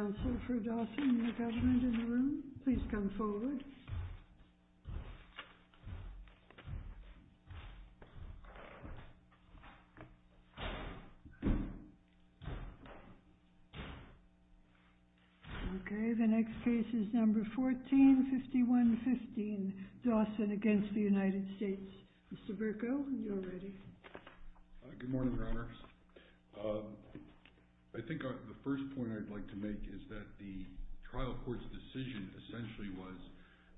Okay, the next case is number 1451-15, Dawson against the United States, Mr. Bercow, you are ready. Good morning, Your Honor. I think the first point I'd like to make is that the trial court's decision essentially was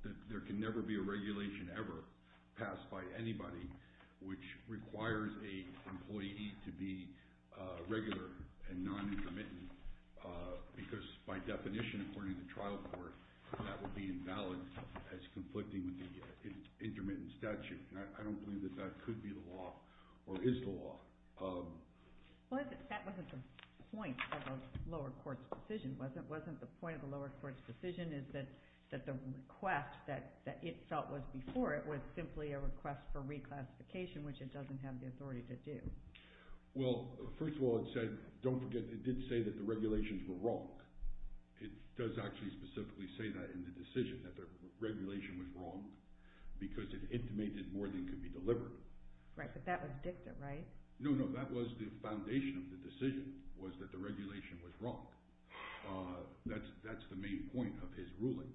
that there can never be a regulation ever passed by anybody which requires an employee to be regular and non-intermittent, because by definition, according to the trial court, that would be invalid as conflicting with the intermittent statute. I don't believe that that could be the law or is the law. Well, that wasn't the point of the lower court's decision, was it? Wasn't the point of the lower court's decision is that the request that it felt was before it was simply a request for reclassification, which it doesn't have the authority to do? Well, first of all, it said – don't forget, it did say that the regulations were wrong. It does actually specifically say that in the decision, that the regulation was wrong because it intimated more than could be delivered. Right, but that was dicta, right? No, no. That was the foundation of the decision was that the regulation was wrong. That's the main point of his ruling.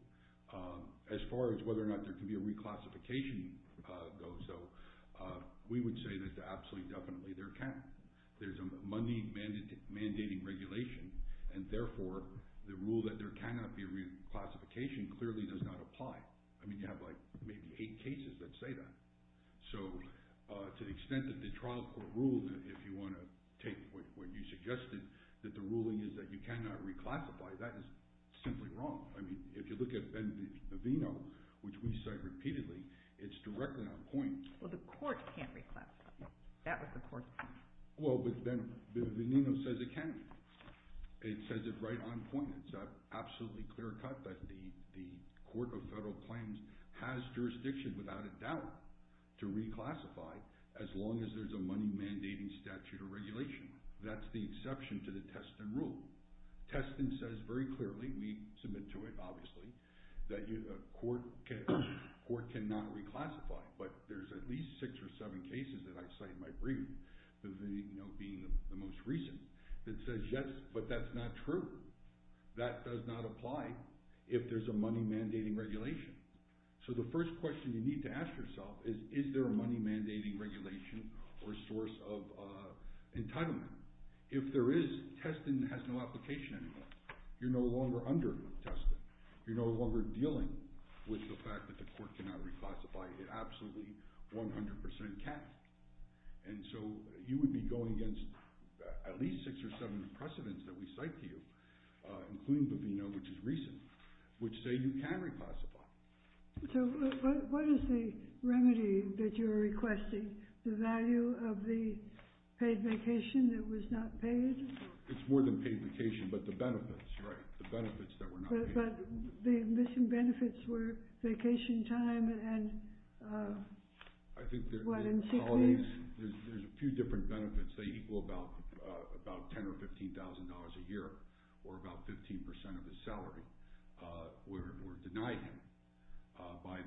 As far as whether or not there can be a reclassification, though, so we would say that absolutely, definitely there can. There's a money mandating regulation, and therefore the rule that there cannot be reclassification clearly does not apply. I mean, you have like maybe eight cases that say that. So to the extent that the trial court ruled, if you want to take what you suggested, that the ruling is that you cannot reclassify, that is simply wrong. I mean, if you look at Benvenino, which we cite repeatedly, it's directly on point. Well, the court can't reclassify. That was the court's decision. Well, Benvenino says it can. It says it's right on point. It's an absolutely clear cut that the Court of Federal Claims has jurisdiction, without a doubt, to reclassify as long as there's a money mandating statute or regulation. That's the exception to the Teston rule. Teston says very clearly—we submit to it, obviously—that a court cannot reclassify. But there's at least six or seven cases that I cite in my brief, Benvenino being the most recent, that says yes, but that's not true. That does not apply if there's a money mandating regulation. So the first question you need to ask yourself is, is there a money mandating regulation or source of entitlement? If there is, Teston has no application anymore. You're no longer under Teston. You're no longer dealing with the fact that the court cannot reclassify. It absolutely, 100 percent, can. And so you would be going against at least six or seven precedents that we cite to you, including Benvenino, which is recent, which say you can reclassify. So what is the remedy that you're requesting? The value of the paid vacation that was not paid? It's more than paid vacation, but the benefits, right, the benefits that were not paid. But the missing benefits were vacation time and— I think there's a few different benefits. They equal about $10,000 or $15,000 a year, or about 15 percent of his salary were denied him by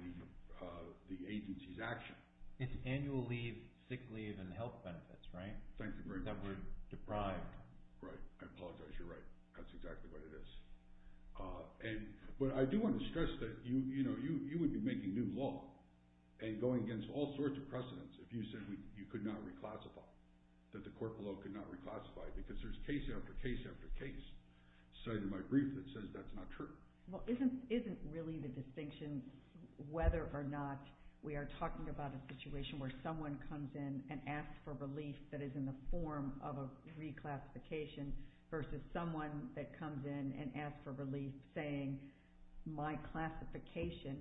the agency's action. It's annual leave, sick leave, and health benefits, right? Thank you very much. That were deprived. Right. I apologize. You're right. That's exactly what it is. But I do want to stress that you would be making new law and going against all sorts of precedents if you said you could not reclassify, that the court below could not reclassify, because there's case after case after case cited in my brief that says that's not true. Well, isn't really the distinction whether or not we are talking about a situation where someone comes in and asks for relief that is in the form of a reclassification versus someone that comes in and asks for relief saying my classification,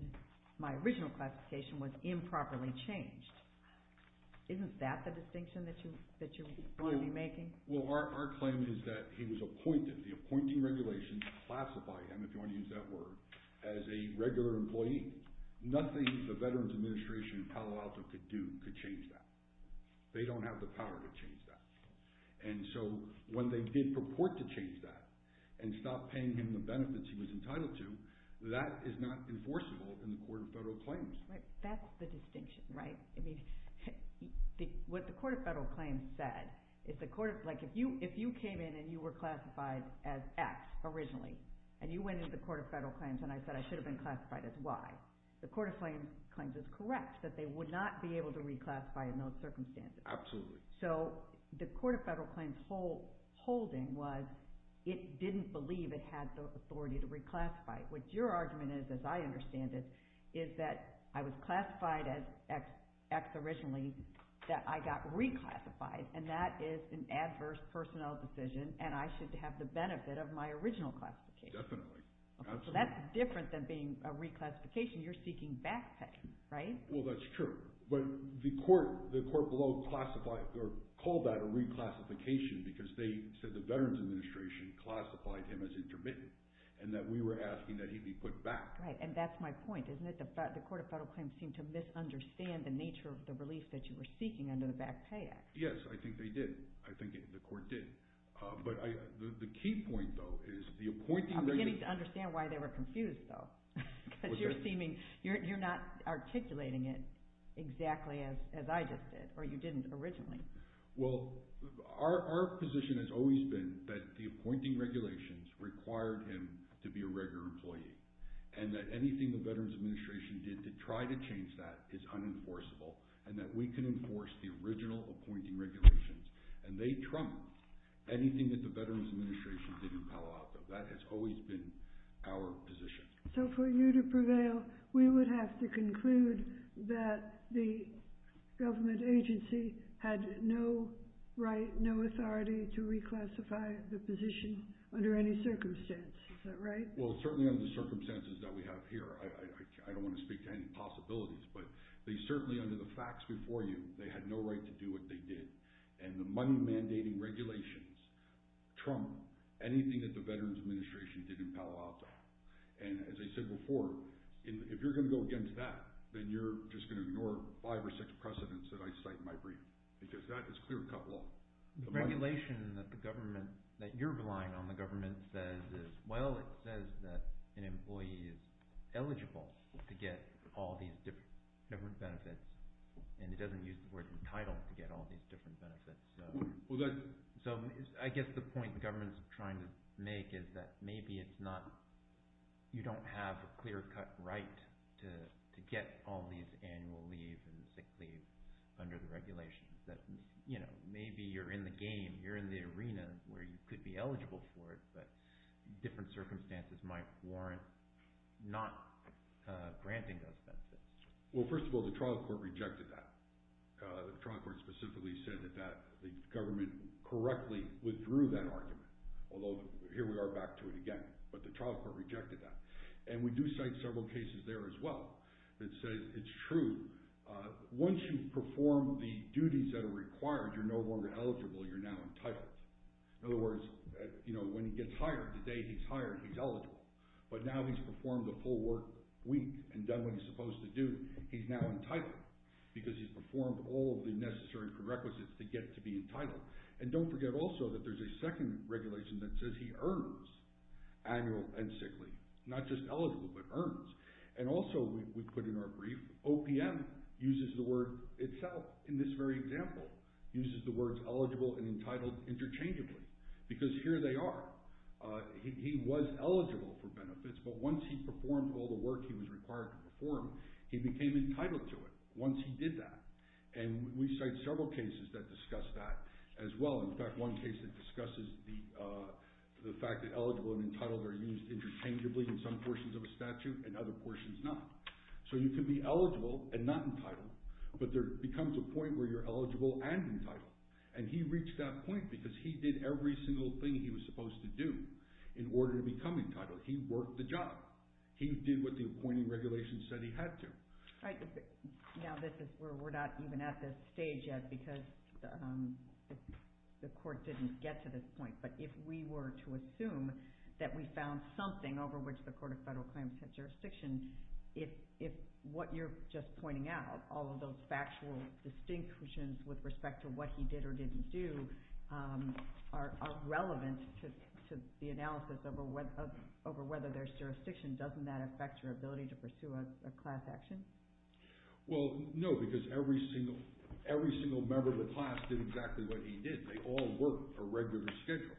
my original classification was improperly changed? Isn't that the distinction that you're going to be making? Well, our claim is that he was appointed. The appointing regulations classify him, if you want to use that word, as a regular employee. Nothing the Veterans Administration in Palo Alto could do could change that. They don't have the power to change that. And so when they did purport to change that and stop paying him the benefits he was entitled to, that is not enforceable in the Court of Federal Claims. That's the distinction, right? What the Court of Federal Claims said, if you came in and you were classified as X originally, and you went into the Court of Federal Claims and I said I should have been classified as Y, the Court of Federal Claims is correct that they would not be able to reclassify in those circumstances. Absolutely. So the Court of Federal Claims holding was it didn't believe it had the authority to reclassify. What your argument is, as I understand it, is that I was classified as X originally, that I got reclassified, and that is an adverse personnel decision, and I should have the benefit of my original classification. Definitely. So that's different than being a reclassification. You're seeking back pay, right? Well, that's true. But the Court below classified, or called that a reclassification because they said the Veterans Administration classified him as intermittent, and that we were asking that he be put back. Right, and that's my point, isn't it? The Court of Federal Claims seemed to misunderstand the nature of the relief that you were seeking under the Back Pay Act. Yes, I think they did. I think the Court did. But the key point, though, is the appointing rate... I'm beginning to understand why they were confused, though, because you're not articulating it exactly as I just did, or you didn't originally. Well, our position has always been that the appointing regulations required him to be a regular employee, and that anything the Veterans Administration did to try to change that is unenforceable, and that we can enforce the original appointing regulations. And they trumped anything that the Veterans Administration did in Palo Alto. That has always been our position. So for you to prevail, we would have to conclude that the government agency had no right, no authority to reclassify the position under any circumstance. Is that right? Well, certainly under the circumstances that we have here. I don't want to speak to any possibilities, but they certainly, under the facts before you, they had no right to do what they did. And the money-mandating regulations trump anything that the Veterans Administration did in Palo Alto. And as I said before, if you're going to go against that, then you're just going to ignore five or six precedents that I cite in my brief, because that is clear cut law. The regulation that the government – that you're relying on the government says is – well, it says that an employee is eligible to get all these different benefits, and it doesn't use the word entitled to get all these different benefits. So I guess the point the government is trying to make is that maybe it's not – you don't have a clear cut right to get all these annual leave and sick leave under the regulations, that maybe you're in the game. You're in the arena where you could be eligible for it, but different circumstances might warrant not granting those benefits. Well, first of all, the trial court rejected that. The trial court specifically said that the government correctly withdrew that argument, although here we are back to it again. But the trial court rejected that. And we do cite several cases there as well that say it's true. Once you perform the duties that are required, you're no longer eligible. You're now entitled. In other words, when he gets hired, the day he's hired, he's eligible. But now he's performed the full work week and done what he's supposed to do, he's now entitled because he's performed all of the necessary prerequisites to get to be entitled. And don't forget also that there's a second regulation that says he earns annual and sick leave, not just eligible but earns. And also we put in our brief, OPM uses the word itself in this very example, uses the words eligible and entitled interchangeably. Because here they are. He was eligible for benefits, but once he performed all the work he was required to perform, he became entitled to it once he did that. And we cite several cases that discuss that as well. In fact, one case that discusses the fact that eligible and entitled are used interchangeably in some portions of a statute and other portions not. So you can be eligible and not entitled, but there becomes a point where you're eligible and entitled. And he reached that point because he did every single thing he was supposed to do in order to become entitled. He worked the job. He did what the appointing regulation said he had to. Now this is where we're not even at this stage yet because the court didn't get to this point. But if we were to assume that we found something over which the Court of Federal Claims had jurisdiction, if what you're just pointing out, all of those factual distinctions with respect to what he did or didn't do, are relevant to the analysis over whether there's jurisdiction, doesn't that affect your ability to pursue a class action? Well, no, because every single member of the class did exactly what he did. They all worked a regular schedule.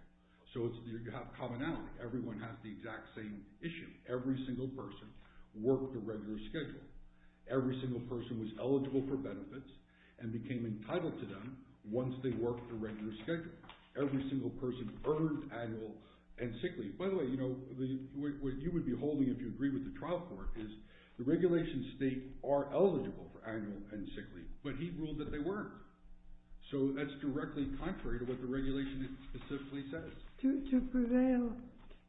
So you have commonality. Everyone has the exact same issue. Every single person worked a regular schedule. Every single person was eligible for benefits and became entitled to them once they worked a regular schedule. Every single person earned annual and sick leave. By the way, what you would be holding if you agree with the trial court is the regulation states are eligible for annual and sick leave, but he ruled that they weren't. So that's directly contrary to what the regulation specifically says. To prevail,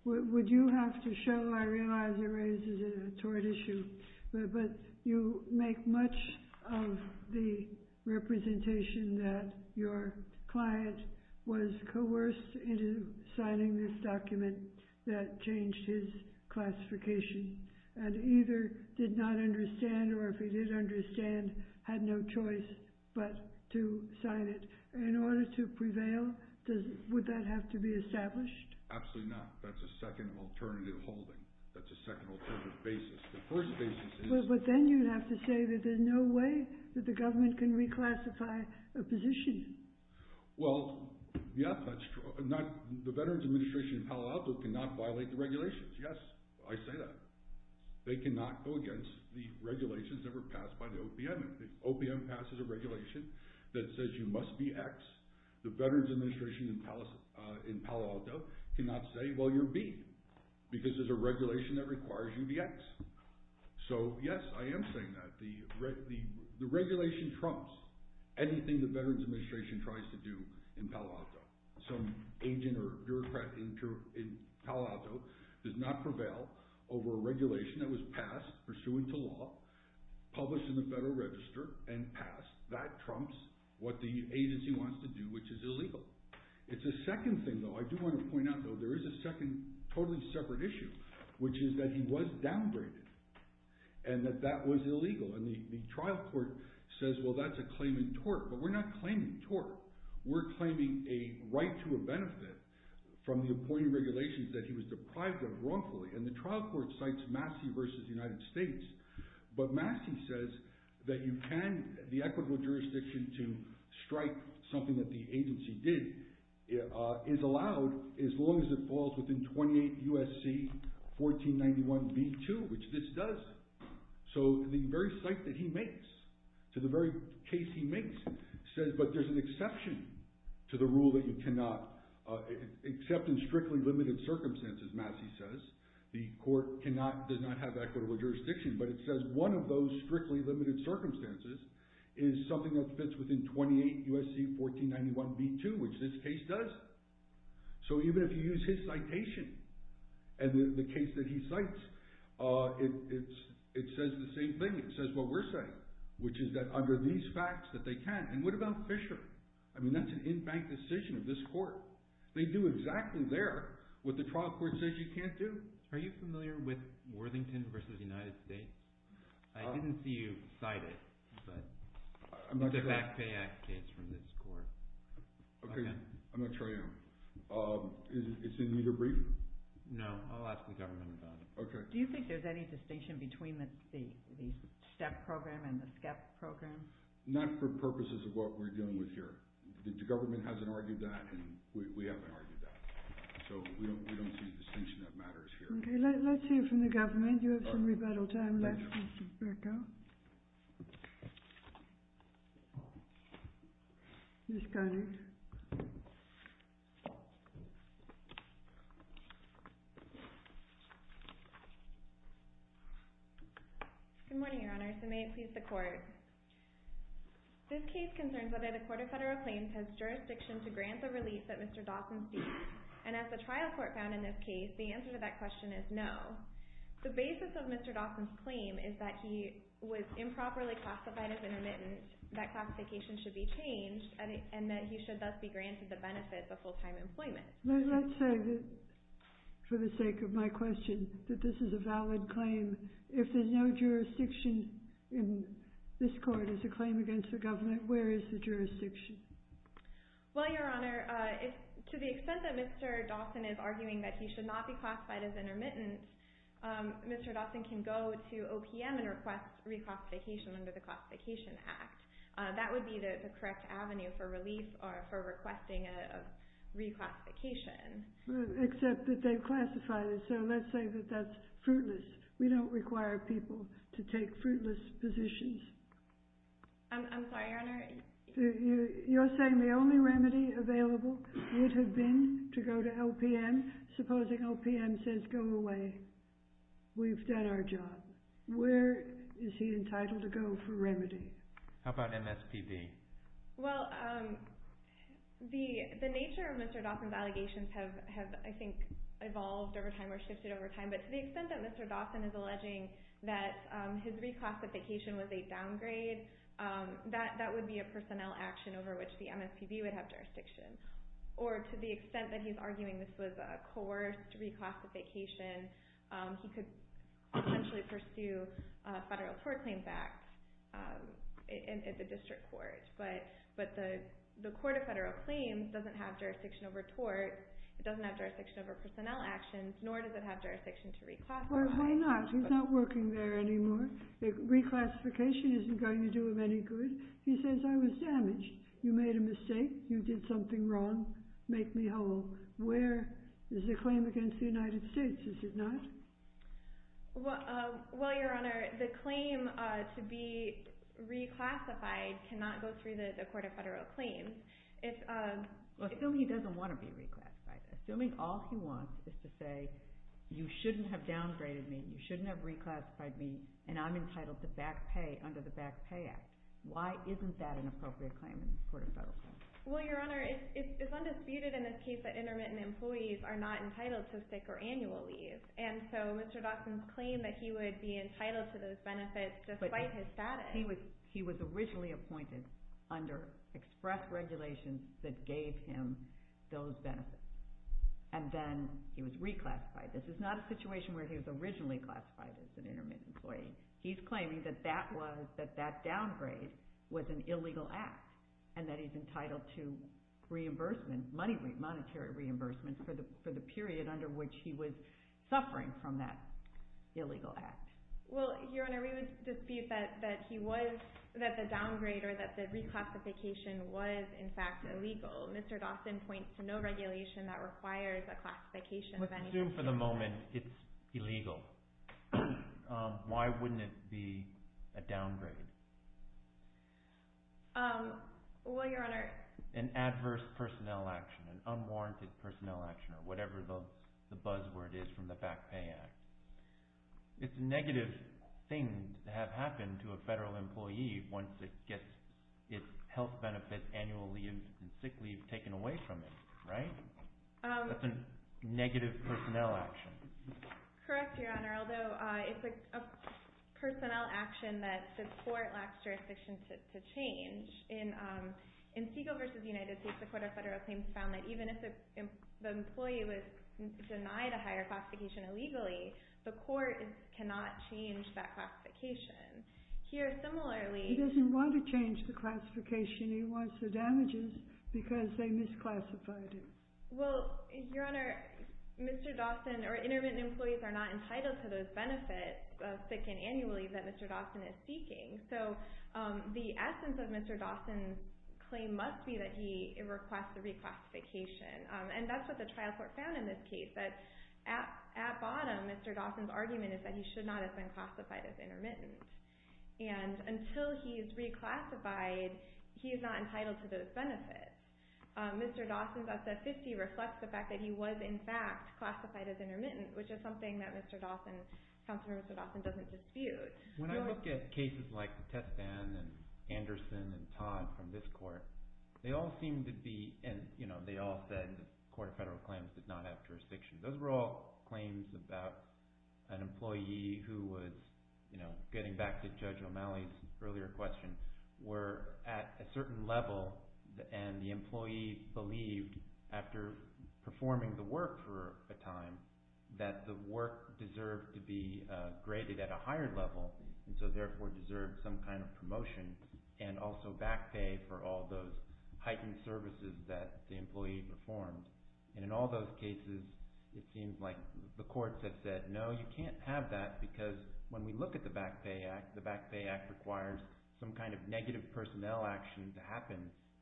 would you have to show, I realize it raises a tort issue, but you make much of the representation that your client was coerced into signing this document that changed his classification and either did not understand or if he did understand, had no choice but to sign it. In order to prevail, would that have to be established? Absolutely not. That's a second alternative holding. That's a second alternative basis. The first basis is... But then you'd have to say that there's no way that the government can reclassify a position. Well, yeah, that's true. The Veterans Administration in Palo Alto cannot violate the regulations. Yes, I say that. They cannot go against the regulations that were passed by the OPM. If the OPM passes a regulation that says you must be X, the Veterans Administration in Palo Alto cannot say, well, you're B, because there's a regulation that requires you to be X. So, yes, I am saying that. The regulation trumps anything the Veterans Administration tries to do in Palo Alto. Some agent or bureaucrat in Palo Alto does not prevail over a regulation that was passed pursuant to law, published in the Federal Register and passed. That trumps what the agency wants to do, which is illegal. It's a second thing, though. I do want to point out, though, there is a second totally separate issue, which is that he was downgraded and that that was illegal. And the trial court says, well, that's a claim in tort. But we're not claiming tort. We're claiming a right to a benefit from the appointed regulations that he was deprived of wrongfully. And the trial court cites Massey v. United States. But Massey says that the equitable jurisdiction to strike something that the agency did is allowed as long as it falls within 28 U.S.C. 1491b2, which this does. So the very cite that he makes to the very case he makes says, but there's an exception to the rule that you cannot except in strictly limited circumstances, Massey says. The court does not have equitable jurisdiction, but it says one of those strictly limited circumstances is something that fits within 28 U.S.C. 1491b2, which this case does. So even if you use his citation and the case that he cites, it says the same thing. It says what we're saying, which is that under these facts that they can. And what about Fisher? I mean, that's an in-bank decision of this court. They do exactly there what the trial court says you can't do. Are you familiar with Worthington v. United States? I didn't see you cite it, but it's a back pay act case from this court. I'm not sure I am. Is it in your brief? No, I'll ask the government about it. Do you think there's any distinction between the STEP program and the SCEP program? Not for purposes of what we're dealing with here. The government hasn't argued that, and we haven't argued that. So we don't see a distinction that matters here. Okay, let's hear from the government. You have some rebuttal time left, Mr. Burkow. Ms. Conner. Good morning, Your Honors, and may it please the Court. This case concerns whether the Court of Federal Claims has jurisdiction to grant the release that Mr. Dawson seeks, and as the trial court found in this case, the answer to that question is no. The basis of Mr. Dawson's claim is that he was improperly classified as intermittent, that classification should be changed, and that he should thus be granted the benefits of full-time employment. Let's say, for the sake of my question, that this is a valid claim. If there's no jurisdiction in this court as a claim against the government, where is the jurisdiction? Well, Your Honor, to the extent that Mr. Dawson is arguing that he should not be classified as intermittent, Mr. Dawson can go to OPM and request reclassification under the Classification Act. That would be the correct avenue for release or for requesting a reclassification. Except that they've classified it, so let's say that that's fruitless. We don't require people to take fruitless positions. I'm sorry, Your Honor. You're saying the only remedy available would have been to go to OPM? Supposing OPM says, go away, we've done our job. Where is he entitled to go for remedy? How about MSPB? Well, the nature of Mr. Dawson's allegations have, I think, evolved over time or shifted over time, but to the extent that Mr. Dawson is alleging that his reclassification was a downgrade, that would be a personnel action over which the MSPB would have jurisdiction. Or to the extent that he's arguing this was a coerced reclassification, he could potentially pursue a federal tort claims act at the district court. But the court of federal claims doesn't have jurisdiction over torts, it doesn't have jurisdiction over personnel actions, nor does it have jurisdiction to reclassify. Why not? He's not working there anymore. Reclassification isn't going to do him any good. He says, I was damaged. You made a mistake. You did something wrong. Make me whole. Where is the claim against the United States? Is it not? Well, Your Honor, the claim to be reclassified cannot go through the court of federal claims. Assuming he doesn't want to be reclassified. Assuming all he wants is to say, you shouldn't have downgraded me, you shouldn't have reclassified me, and I'm entitled to back pay under the Back Pay Act. Why isn't that an appropriate claim in the court of federal claims? Well, Your Honor, it's undisputed in this case that intermittent employees are not entitled to sick or annual leave. And so Mr. Dawson's claim that he would be entitled to those benefits despite his status. But he was originally appointed under express regulations that gave him those benefits. And then he was reclassified. This is not a situation where he was originally classified as an intermittent employee. He's claiming that that downgrade was an illegal act and that he's entitled to monetary reimbursement for the period under which he was suffering from that illegal act. Well, Your Honor, we would dispute that he was, that the downgrade or that the reclassification was, in fact, illegal. Mr. Dawson points to no regulation that requires a classification of anything. If we assume for the moment it's illegal, why wouldn't it be a downgrade? Well, Your Honor. It's like an adverse personnel action, an unwarranted personnel action, or whatever the buzzword is from the Back Pay Act. It's a negative thing to have happen to a federal employee once it gets its health benefits, annual leave, and sick leave taken away from it, right? That's a negative personnel action. Correct, Your Honor. Although it's a personnel action that the court lacks jurisdiction to change. In Segal v. United States, the Court of Federal Claims found that even if the employee was denied a higher classification illegally, the court cannot change that classification. He doesn't want to change the classification. He wants the damages because they misclassified him. Well, Your Honor, Mr. Dawson or intermittent employees are not entitled to those benefits of sick and annual leave that Mr. Dawson is seeking. So the essence of Mr. Dawson's claim must be that he requests the reclassification. And that's what the trial court found in this case. At bottom, Mr. Dawson's argument is that he should not have been classified as intermittent. And until he is reclassified, he is not entitled to those benefits. Mr. Dawson's obsessivity reflects the fact that he was, in fact, classified as intermittent, which is something that Mr. Dawson, Counselor Mr. Dawson, doesn't dispute. When I look at cases like the Tespan and Anderson and Todd from this court, they all seem to be, and they all said the Court of Federal Claims did not have jurisdiction. Those were all claims about an employee who was, you know, getting back to Judge O'Malley's earlier question, were at a certain level and the employee believed, after performing the work for a time, that the work deserved to be graded at a higher level and so therefore deserved some kind of promotion and also back pay for all those heightened services that the employee performed. And in all those cases, it seems like the courts have said, no, you can't have that because when we look at the Back Pay Act, the Back Pay Act requires some kind of negative personnel action to happen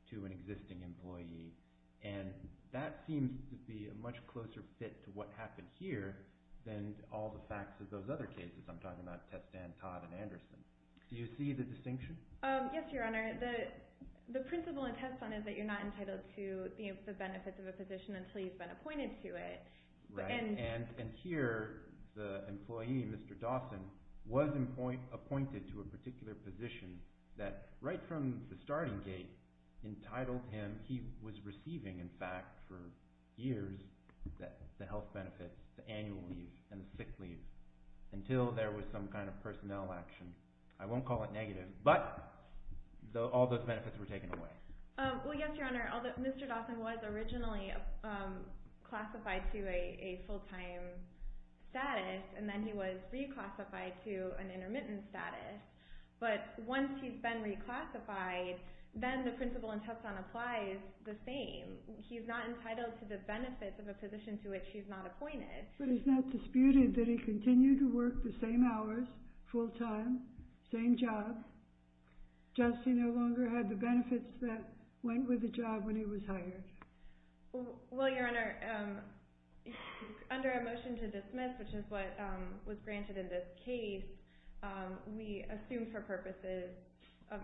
to an existing employee. And that seems to be a much closer fit to what happened here than all the facts of those other cases. I'm talking about Tespan, Todd, and Anderson. Do you see the distinction? Yes, Your Honor. The principle in Tespan is that you're not entitled to the benefits of a position until you've been appointed to it. Right. And here, the employee, Mr. Dawson, was appointed to a particular position that, right from the starting gate, entitled him, he was receiving, in fact, for years, the health benefits, the annual leave and the sick leave, until there was some kind of personnel action. I won't call it negative, but all those benefits were taken away. Well, yes, Your Honor. Mr. Dawson was originally classified to a full-time status and then he was reclassified to an intermittent status. But once he's been reclassified, then the principle in Tespan applies the same. He's not entitled to the benefits of a position to which he's not appointed. But it's not disputed that he continued to work the same hours, full-time, same job. Just he no longer had the benefits that went with the job when he was hired. Well, Your Honor, under a motion to dismiss, which is what was granted in this case, we assume for purposes of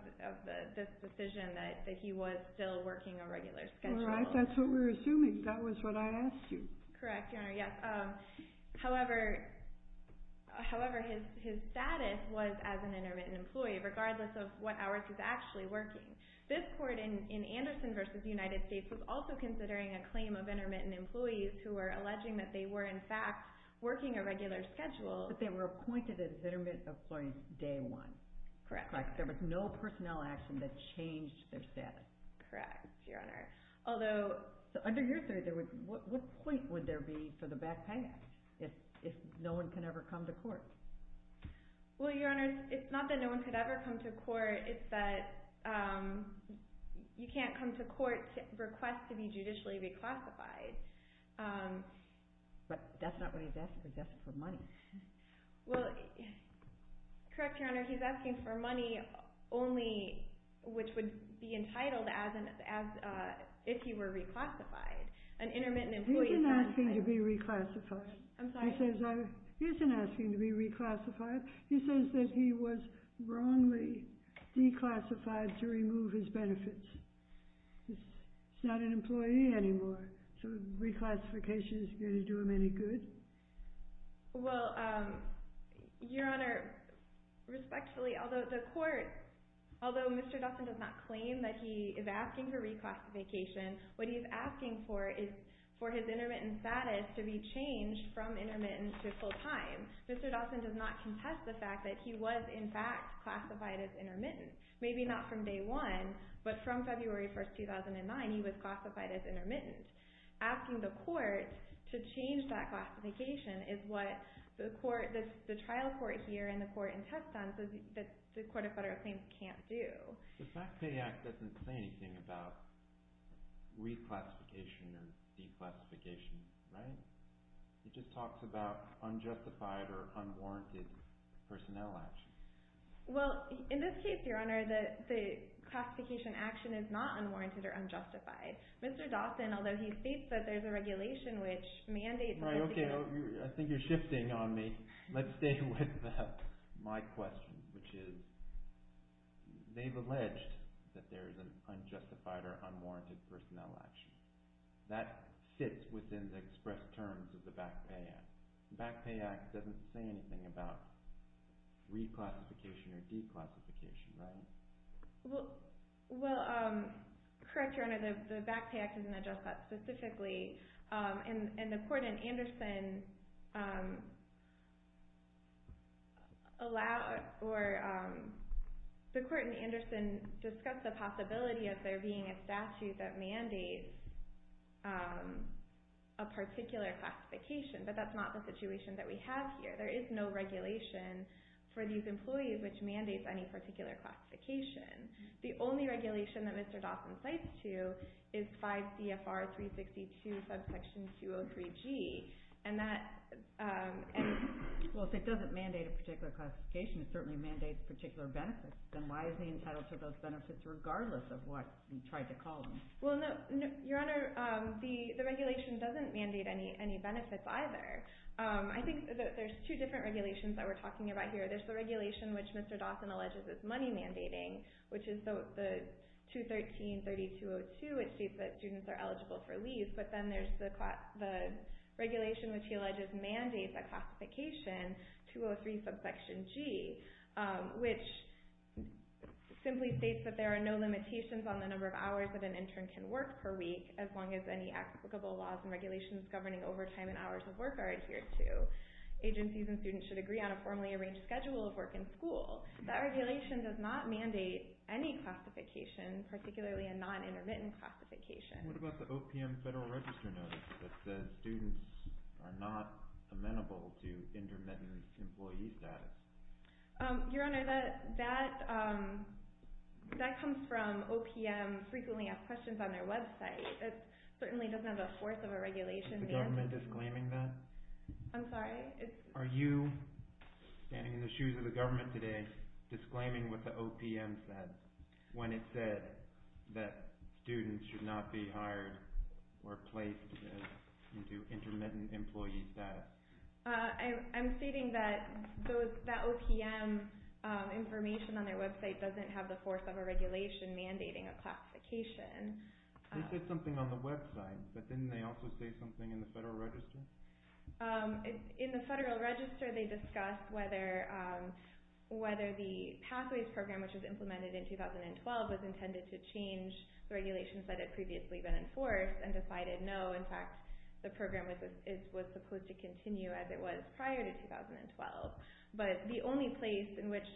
this decision that he was still working a regular schedule. All right. That's what we're assuming. That was what I asked you. Correct, Your Honor, yes. However, his status was as an intermittent employee, regardless of what hours he was actually working. This court in Anderson v. United States was also considering a claim of intermittent employees who were alleging that they were, in fact, working a regular schedule. But they were appointed as intermittent employees day one. Correct. There was no personnel action that changed their status. Correct, Your Honor. Although… Under your theory, what point would there be for the Backpay Act if no one can ever come to court? Well, Your Honor, it's not that no one could ever come to court. It's that you can't come to court to request to be judicially reclassified. But that's not what he's asking for. He's asking for money. Well, correct, Your Honor, he's asking for money only which would be entitled as if he were reclassified. An intermittent employee… He isn't asking to be reclassified. I'm sorry? He isn't asking to be reclassified. He says that he was wrongly declassified to remove his benefits. He's not an employee anymore, so reclassification isn't going to do him any good. Well, Your Honor, respectfully, although the court, although Mr. Dawson does not claim that he is asking for reclassification, what he is asking for is for his intermittent status to be changed from intermittent to full-time. Mr. Dawson does not contest the fact that he was, in fact, classified as intermittent. Maybe not from day one, but from February 1, 2009, he was classified as intermittent. He's just asking the court to change that classification is what the trial court here and the court in Teston says the Court of Federal Claims can't do. The FACT Pay Act doesn't say anything about reclassification or declassification, right? It just talks about unjustified or unwarranted personnel action. Well, in this case, Your Honor, the classification action is not unwarranted or unjustified. Mr. Dawson, although he states that there is a regulation which mandates that... Right, okay, I think you're shifting on me. Let's stay with my question, which is, they've alleged that there is an unjustified or unwarranted personnel action. That fits within the express terms of the FACT Pay Act. The FACT Pay Act doesn't say anything about reclassification or declassification, right? Well, correct, Your Honor, the FACT Pay Act doesn't address that specifically. The court in Anderson discussed the possibility of there being a statute that mandates a particular classification, but that's not the situation that we have here. There is no regulation for these employees which mandates any particular classification. The only regulation that Mr. Dawson cites to is 5 CFR 362, subsection 203G, and that... Well, if it doesn't mandate a particular classification, it certainly mandates particular benefits. Then why is he entitled to those benefits regardless of what you tried to call them? Well, Your Honor, the regulation doesn't mandate any benefits either. I think that there's two different regulations that we're talking about here. There's the regulation which Mr. Dawson alleges is money mandating, which is the 213-3202, which states that students are eligible for leave, but then there's the regulation which he alleges mandates a classification, 203, subsection G, which simply states that there are no limitations on the number of hours that an intern can work per week as long as any applicable laws and regulations governing overtime and hours of work are adhered to. Agencies and students should agree on a formally arranged schedule of work in school. That regulation does not mandate any classification, particularly a non-intermittent classification. What about the OPM Federal Register notice that says students are not amenable to intermittent employee status? Your Honor, that comes from OPM Frequently Asked Questions on their website. It certainly doesn't have the force of a regulation there. Is the government disclaiming that? I'm sorry? Are you standing in the shoes of the government today disclaiming what the OPM said when it said that students should not be hired or placed into intermittent employee status? I'm stating that the OPM information on their website doesn't have the force of a regulation mandating a classification. They said something on the website, but didn't they also say something in the Federal Register? In the Federal Register they discussed whether the Pathways Program, which was implemented in 2012, was intended to change the regulations that had previously been enforced and decided no, in fact, the program was supposed to continue as it was prior to 2012. But the only place in which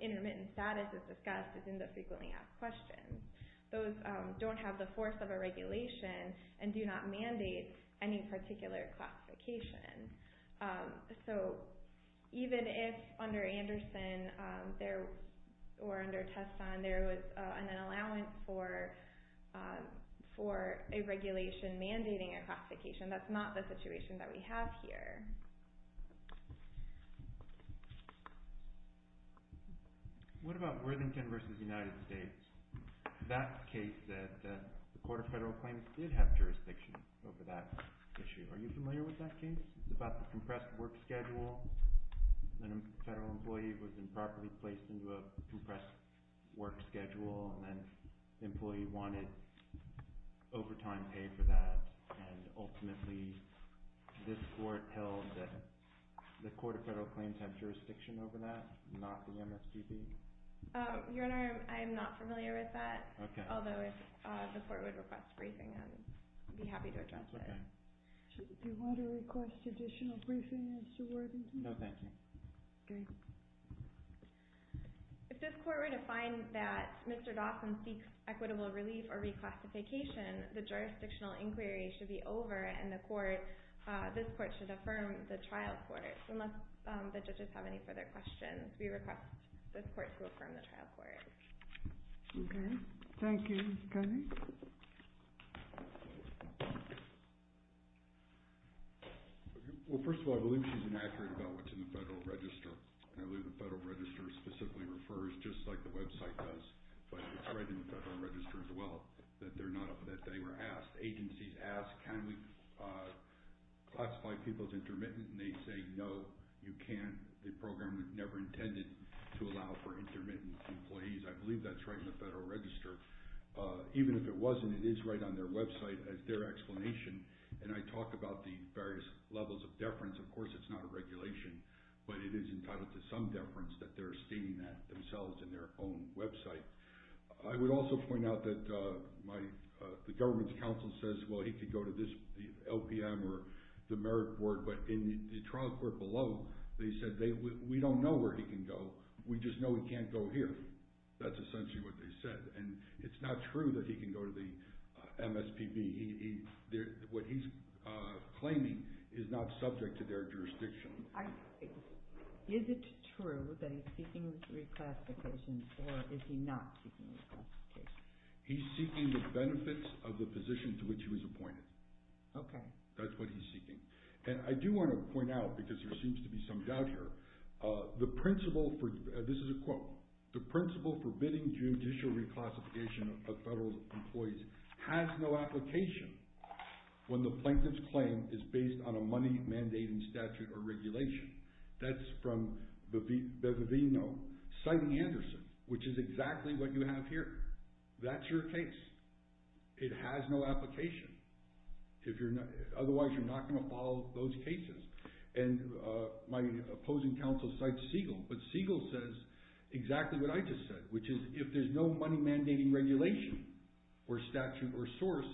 intermittent status is discussed is in the Frequently Asked Questions. Those don't have the force of a regulation and do not mandate any particular classification. So even if under Anderson or under Teston there was an allowance for a regulation mandating a classification, that's not the situation that we have here. What about Worthington v. United States? That case that the Court of Federal Claims did have jurisdiction over that issue. Are you familiar with that case? It's about the compressed work schedule. A Federal employee was improperly placed into a compressed work schedule and the employee wanted overtime paid for that. Ultimately, this Court held that the Court of Federal Claims had jurisdiction over that, not the MSPB. Your Honor, I'm not familiar with that, although the Court would request a briefing and I'd be happy to address it. Do you want to request additional briefing, Mr. Worthington? No, thank you. If this Court were to find that Mr. Dawson seeks equitable relief or reclassification, the jurisdictional inquiry should be over and this Court should affirm the trial court. Unless the judges have any further questions, we request this Court to affirm the trial court. Okay, thank you. Mr. Cunning? Well, first of all, I believe she's inaccurate about what's in the Federal Register. I believe the Federal Register specifically refers, just like the website does, but it's right in the Federal Register as well, that they were asked. Agencies ask, can we classify people as intermittent, and they say, no, you can't. The program never intended to allow for intermittent employees. I believe that's right in the Federal Register. Even if it wasn't, it is right on their website as their explanation, and I talk about the various levels of deference. Of course, it's not a regulation, but it is entitled to some deference that they're stating that themselves in their own website. I would also point out that the government's counsel says, well, he could go to this LPM or the Merit Board, but in the trial court below, they said, we don't know where he can go, we just know he can't go here. That's essentially what they said, and it's not true that he can go to the MSPB. What he's claiming is not subject to their jurisdiction. Is it true that he's seeking reclassification, or is he not seeking reclassification? He's seeking the benefits of the position to which he was appointed. That's what he's seeking. I do want to point out, because there seems to be some doubt here, the principle for bidding judicial reclassification of federal employees has no application when the plaintiff's claim is based on a money mandating statute or regulation. That's from Bevino, citing Anderson, which is exactly what you have here. That's your case. It has no application. Otherwise, you're not going to follow those cases. My opposing counsel cites Siegel, but Siegel says exactly what I just said, which is, if there's no money mandating regulation or statute or source,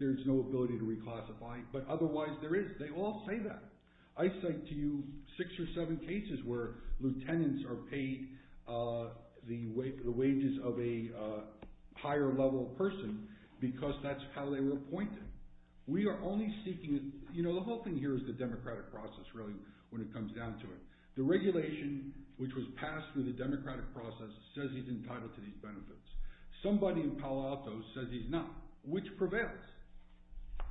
there's no ability to reclassify. But otherwise, there is. They all say that. I cite to you six or seven cases where lieutenants are paid the wages of a higher level person, because that's how they were appointed. The whole thing here is the democratic process, really, when it comes down to it. The regulation which was passed through the democratic process says he's entitled to these benefits. Somebody in Palo Alto says he's not, which prevails.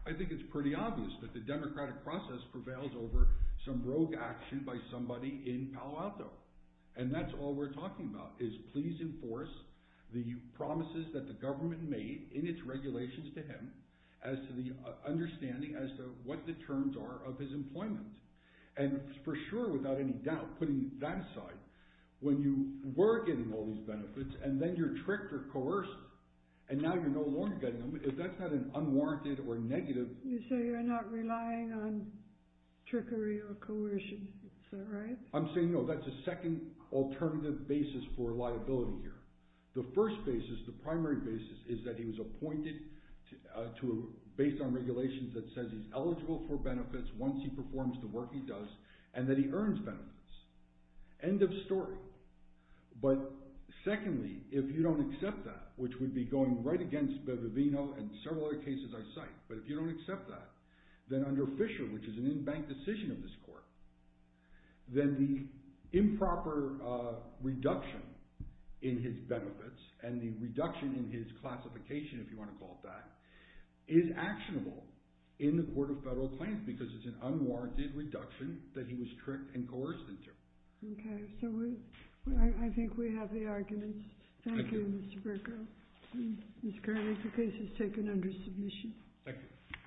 I think it's pretty obvious that the democratic process prevails over some rogue action by somebody in Palo Alto. And that's all we're talking about, is please enforce the promises that the government made in its regulations to him as to the understanding as to what the terms are of his employment. And for sure, without any doubt, putting that aside, when you were getting all these benefits, and then you're tricked or coerced, and now you're no longer getting them, if that's not an unwarranted or negative... You say you're not relying on trickery or coercion. Is that right? I'm saying no, that's a second alternative basis for liability here. The first basis, the primary basis, is that he was appointed based on regulations that says he's eligible for benefits once he performs the work he does, and that he earns benefits. End of story. But secondly, if you don't accept that, which would be going right against Bevivino and several other cases I cite, but if you don't accept that, then under Fisher, which is an in-bank decision of this court, then the improper reduction in his benefits and the reduction in his classification, if you want to call it that, is actionable in the Court of Federal Claims because it's an unwarranted reduction that he was tricked and coerced into. Okay, so I think we have the arguments. Thank you, Mr. Bercow. This carries. The case is taken under submission. Thank you.